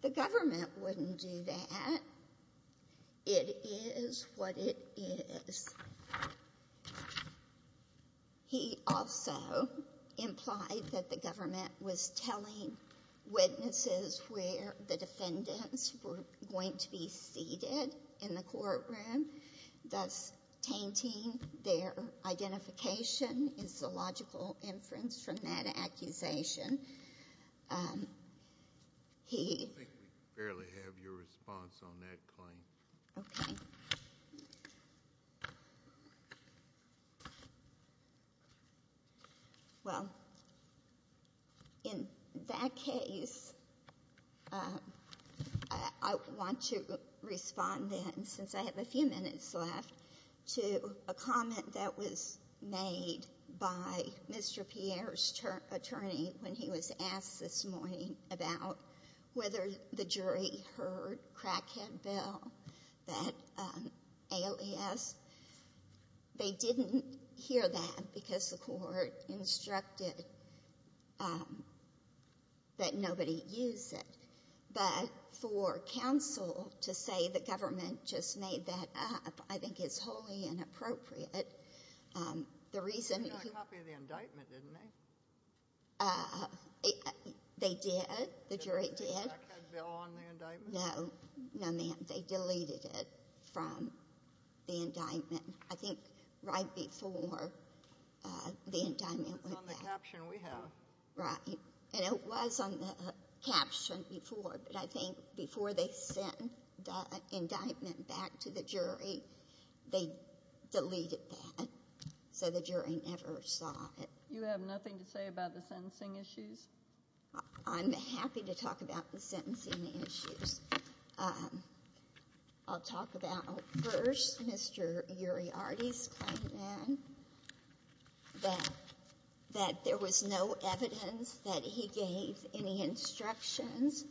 The government wouldn't do that. It is what it is. He also implied that the government was telling witnesses where the defendants were going to be seated in the courtroom, thus tainting their identification is the logical inference from that accusation. I think we barely have your response on that claim. Okay. Well, in that case, I want to respond then, since I have a few minutes left, to a comment that was made by Mr. Pierre's attorney when he was asked this morning about whether the jury heard crackhead Bill, that alias. They didn't hear that because the court instructed that nobody use it. But for counsel to say the government just made that up I think is wholly inappropriate. You got a copy of the indictment, didn't they? They did. The jury did. Crackhead Bill on the indictment? No. No, ma'am. They deleted it from the indictment, I think right before the indictment went back. It was on the caption we have. Right. And it was on the caption before. But I think before they sent the indictment back to the jury, they deleted that. So the jury never saw it. You have nothing to say about the sentencing issues? I'm happy to talk about the sentencing issues. I'll talk about, first, Mr. Uriarte's claim, then, that there was no evidence that he gave any instructions,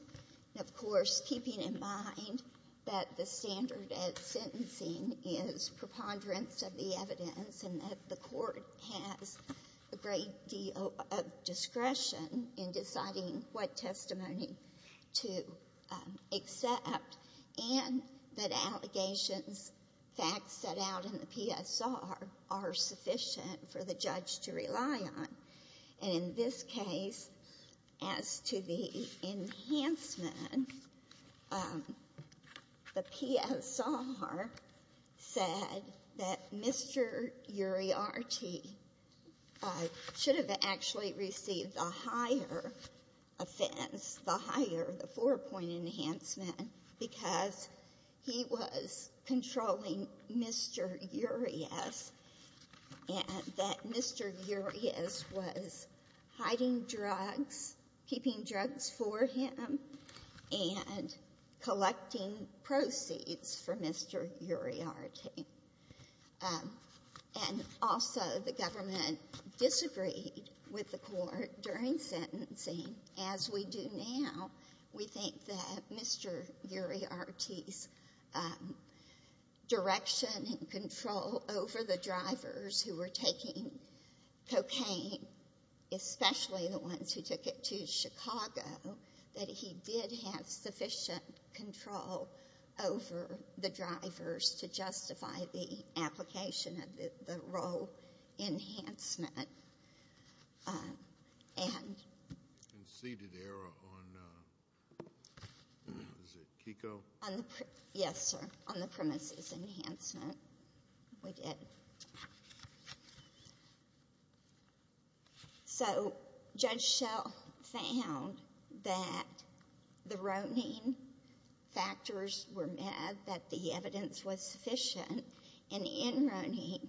and, of course, keeping in mind that the standard at sentencing is preponderance of the evidence and that the court has a great deal of discretion in deciding what testimony to accept, and that allegations, facts set out in the PSR, are sufficient for the judge to rely on. And in this case, as to the enhancement, the PSR said that Mr. Uriarte should have actually received the higher offense, the higher, the four-point enhancement, because he was controlling Mr. Uriarte, and that Mr. Uriarte was hiding drugs, keeping drugs for him, and collecting proceeds for Mr. Uriarte. And also, the government disagreed with the court during sentencing, as we do now. We think that Mr. Uriarte's direction and control over the drivers who were taking cocaine, especially the ones who took it to Chicago, that he did have sufficient control over the drivers to justify the application of the roll enhancement. And — Conceded error on — is it Keiko? Yes, sir, on the premises enhancement, we did. So, Judge Schell found that the Roening factors were met, that the evidence was sufficient. And in Roening,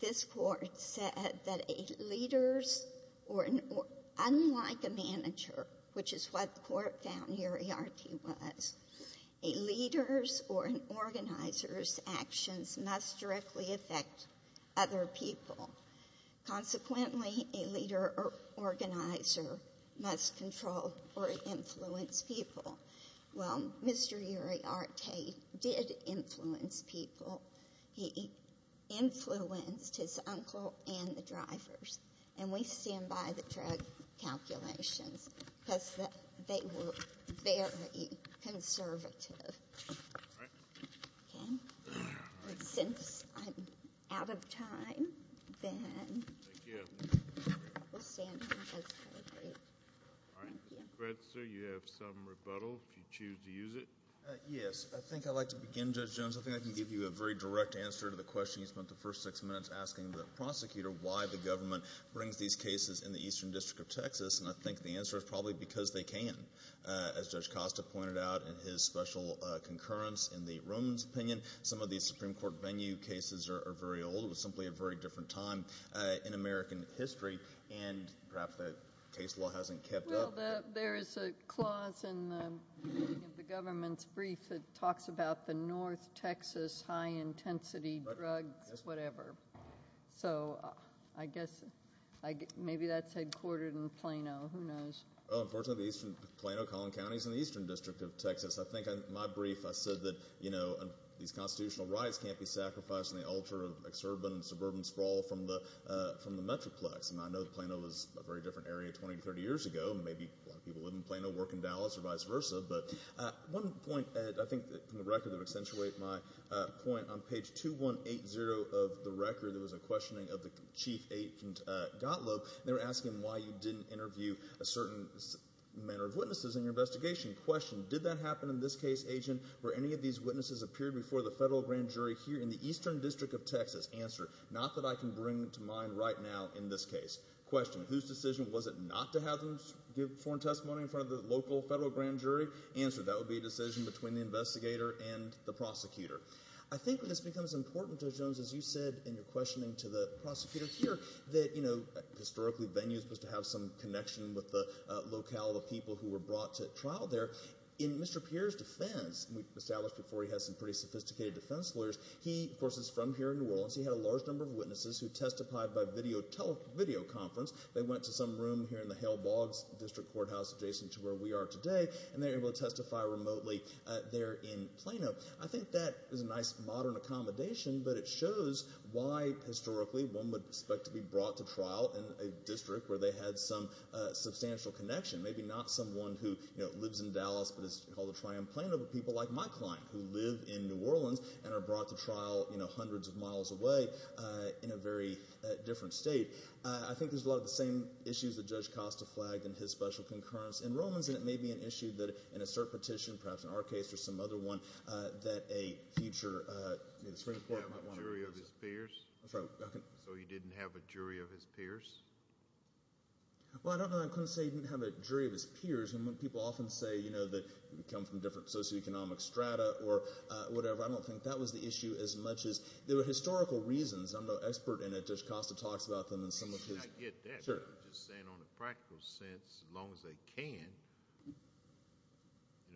this Court said that a leader's — unlike a manager, which is what the Court found Uriarte was, a leader's or an organizer's actions must directly affect other people. Consequently, a leader or organizer must control or influence people. Well, Mr. Uriarte did influence people. And we stand by the drug calculations, because they were very conservative. All right. Okay? And since I'm out of time, then — Thank you. — we'll stand as — All right. Mr. Gretzer, you have some rebuttal, if you choose to use it. Yes. I think I'd like to begin, Judge Jones. I think I can give you a very direct answer to the question you spent the first six minutes asking the prosecutor why the government brings these cases in the Eastern District of Texas. And I think the answer is probably because they can. As Judge Costa pointed out in his special concurrence in the Roening's opinion, some of these Supreme Court venue cases are very old. It was simply a very different time in American history. And perhaps the case law hasn't kept up. Well, there is a clause in the government's brief that talks about the North Texas high-intensity drugs, whatever. So I guess maybe that's headquartered in Plano. Who knows? Well, unfortunately, Plano, Collin County, is in the Eastern District of Texas. I think in my brief I said that these constitutional rights can't be sacrificed on the altar of suburban sprawl from the metroplex. And I know Plano is a very different area 20 to 30 years ago. And maybe a lot of people live in Plano, work in Dallas, or vice versa. One point, I think from the record that would accentuate my point, on page 2180 of the record, there was a questioning of the Chief Agent Gottlob. They were asking him why he didn't interview a certain manner of witnesses in your investigation. Question, did that happen in this case, Agent, where any of these witnesses appeared before the federal grand jury here in the Eastern District of Texas? Answer, not that I can bring to mind right now in this case. Question, whose decision was it not to have them give foreign testimony in front of the local federal grand jury? Answer, that would be a decision between the investigator and the prosecutor. I think this becomes important to Jones, as you said in your questioning to the prosecutor here, that, you know, historically venues were supposed to have some connection with the locale of the people who were brought to trial there. In Mr. Pierre's defense, and we've established before he has some pretty sophisticated defense lawyers, he, of course, is from here in New Orleans. He had a large number of witnesses who testified by videoconference. They went to some room here in the Hale Boggs District Courthouse adjacent to where we are today, and they were able to testify remotely there in Plano. I think that is a nice modern accommodation, but it shows why historically one would expect to be brought to trial in a district where they had some substantial connection, maybe not someone who, you know, lives in Dallas, but it's called the Triumph Plano, but people like my client who live in New Orleans and are brought to trial, you know, hundreds of miles away in a very different state. I think there's a lot of the same issues that Judge Costa flagged in his special concurrence in Romans, and it may be an issue that in a cert petition, perhaps in our case or some other one, that a future Supreme Court might want to address. Did he have a jury of his peers? I'm sorry? So he didn't have a jury of his peers? Well, I don't know. I couldn't say he didn't have a jury of his peers. And when people often say, you know, that we come from different socioeconomic strata or whatever, I don't think that was the issue as much as there were historical reasons. I'm no expert in it. Judge Costa talks about them in some of his. I get that. I'm just saying on a practical sense, as long as they can, you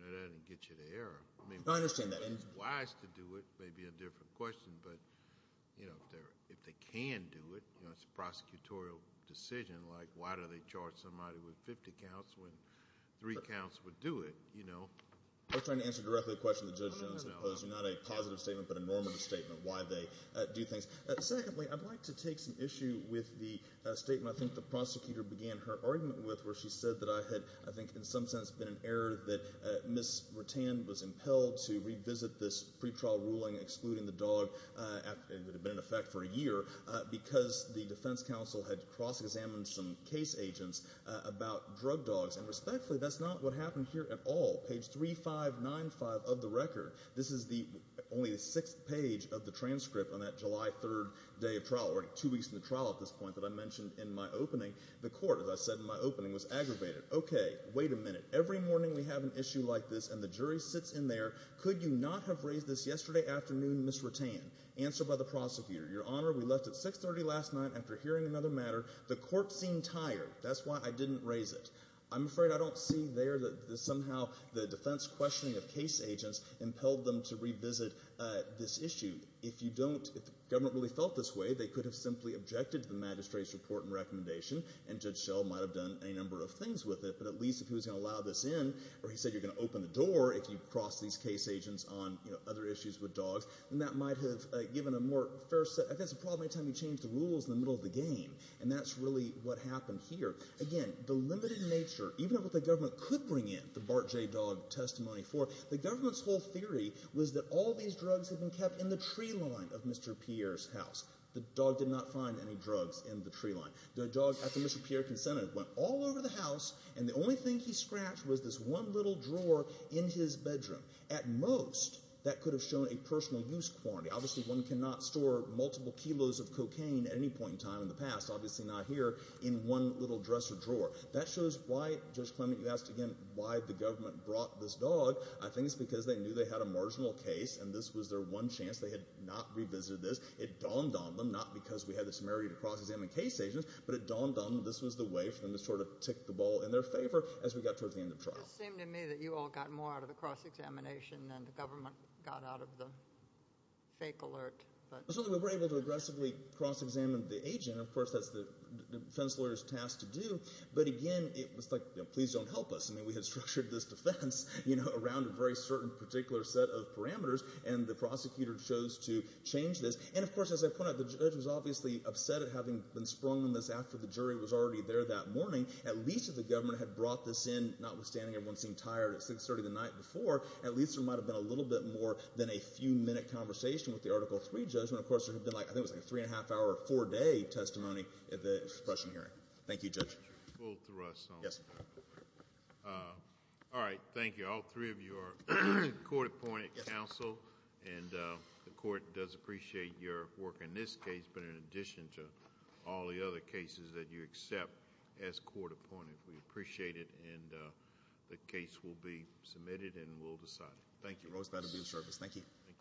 know, that doesn't get you to error. I understand that. If they're wise to do it, maybe a different question. But, you know, if they can do it, you know, it's a prosecutorial decision. Like why do they charge somebody with 50 counts when three counts would do it, you know? I was trying to answer directly the question that Judge Jones had posed, not a positive statement but a normative statement, why they do things. Secondly, I'd like to take some issue with the statement I think the prosecutor began her argument with, where she said that I had, I think in some sense, been an error, that Ms. Rutan was impelled to revisit this pretrial ruling excluding the dog, that had been in effect for a year because the defense counsel had cross-examined some case agents about drug dogs. And respectfully, that's not what happened here at all. Page 3595 of the record. This is only the sixth page of the transcript on that July 3rd day of trial, or two weeks from the trial at this point, that I mentioned in my opening. The court, as I said in my opening, was aggravated. Okay, wait a minute. Every morning we have an issue like this and the jury sits in there. Could you not have raised this yesterday afternoon, Ms. Rutan? Answered by the prosecutor. Your Honor, we left at 630 last night after hearing another matter. The court seemed tired. That's why I didn't raise it. I'm afraid I don't see there that somehow the defense questioning of case agents impelled them to revisit this issue. If you don't, if the government really felt this way, they could have simply objected to the magistrate's report and recommendation, and Judge Schell might have done a number of things with it, but at least if he was going to allow this in, or he said you're going to open the door if you cross these case agents on other issues with dogs, then that might have given a more fair set of evidence. The problem is anytime you change the rules in the middle of the game, and that's really what happened here. Again, the limited nature, even of what the government could bring in the Bart J. Dog testimony for, the government's whole theory was that all these drugs had been kept in the tree line of Mr. Pierre's house. The dog did not find any drugs in the tree line. And the only thing he scratched was this one little drawer in his bedroom. At most, that could have shown a personal use quantity. Obviously, one cannot store multiple kilos of cocaine at any point in time in the past, obviously not here, in one little dresser drawer. That shows why, Judge Clement, you asked again why the government brought this dog. I think it's because they knew they had a marginal case, and this was their one chance. They had not revisited this. It dawned on them, not because we had this myriad of cross-examined case agents, but it dawned on them this was the way for them to sort of tick the ball in their favor as we got towards the end of trial. It seemed to me that you all got more out of the cross-examination than the government got out of the fake alert. We were able to aggressively cross-examine the agent. Of course, that's the defense lawyer's task to do. But again, it was like, please don't help us. I mean we had structured this defense around a very certain particular set of parameters, and the prosecutor chose to change this. And, of course, as I pointed out, the judge was obviously upset at having been sprung on this after the jury was already there that morning. At least if the government had brought this in, notwithstanding everyone seemed tired at 6.30 the night before, at least there might have been a little bit more than a few-minute conversation with the Article III judge. And, of course, there would have been like, I think it was like a three-and-a-half-hour or four-day testimony at the suppression hearing. Thank you, Judge. Both of us. Yes. All right. Thank you. All three of you are court-appointed counsel, and the court does appreciate your work in this case, but in addition to all the other cases that you accept as court-appointed, we appreciate it. And the case will be submitted, and we'll decide it. Thank you. Always glad to be of service. Thank you.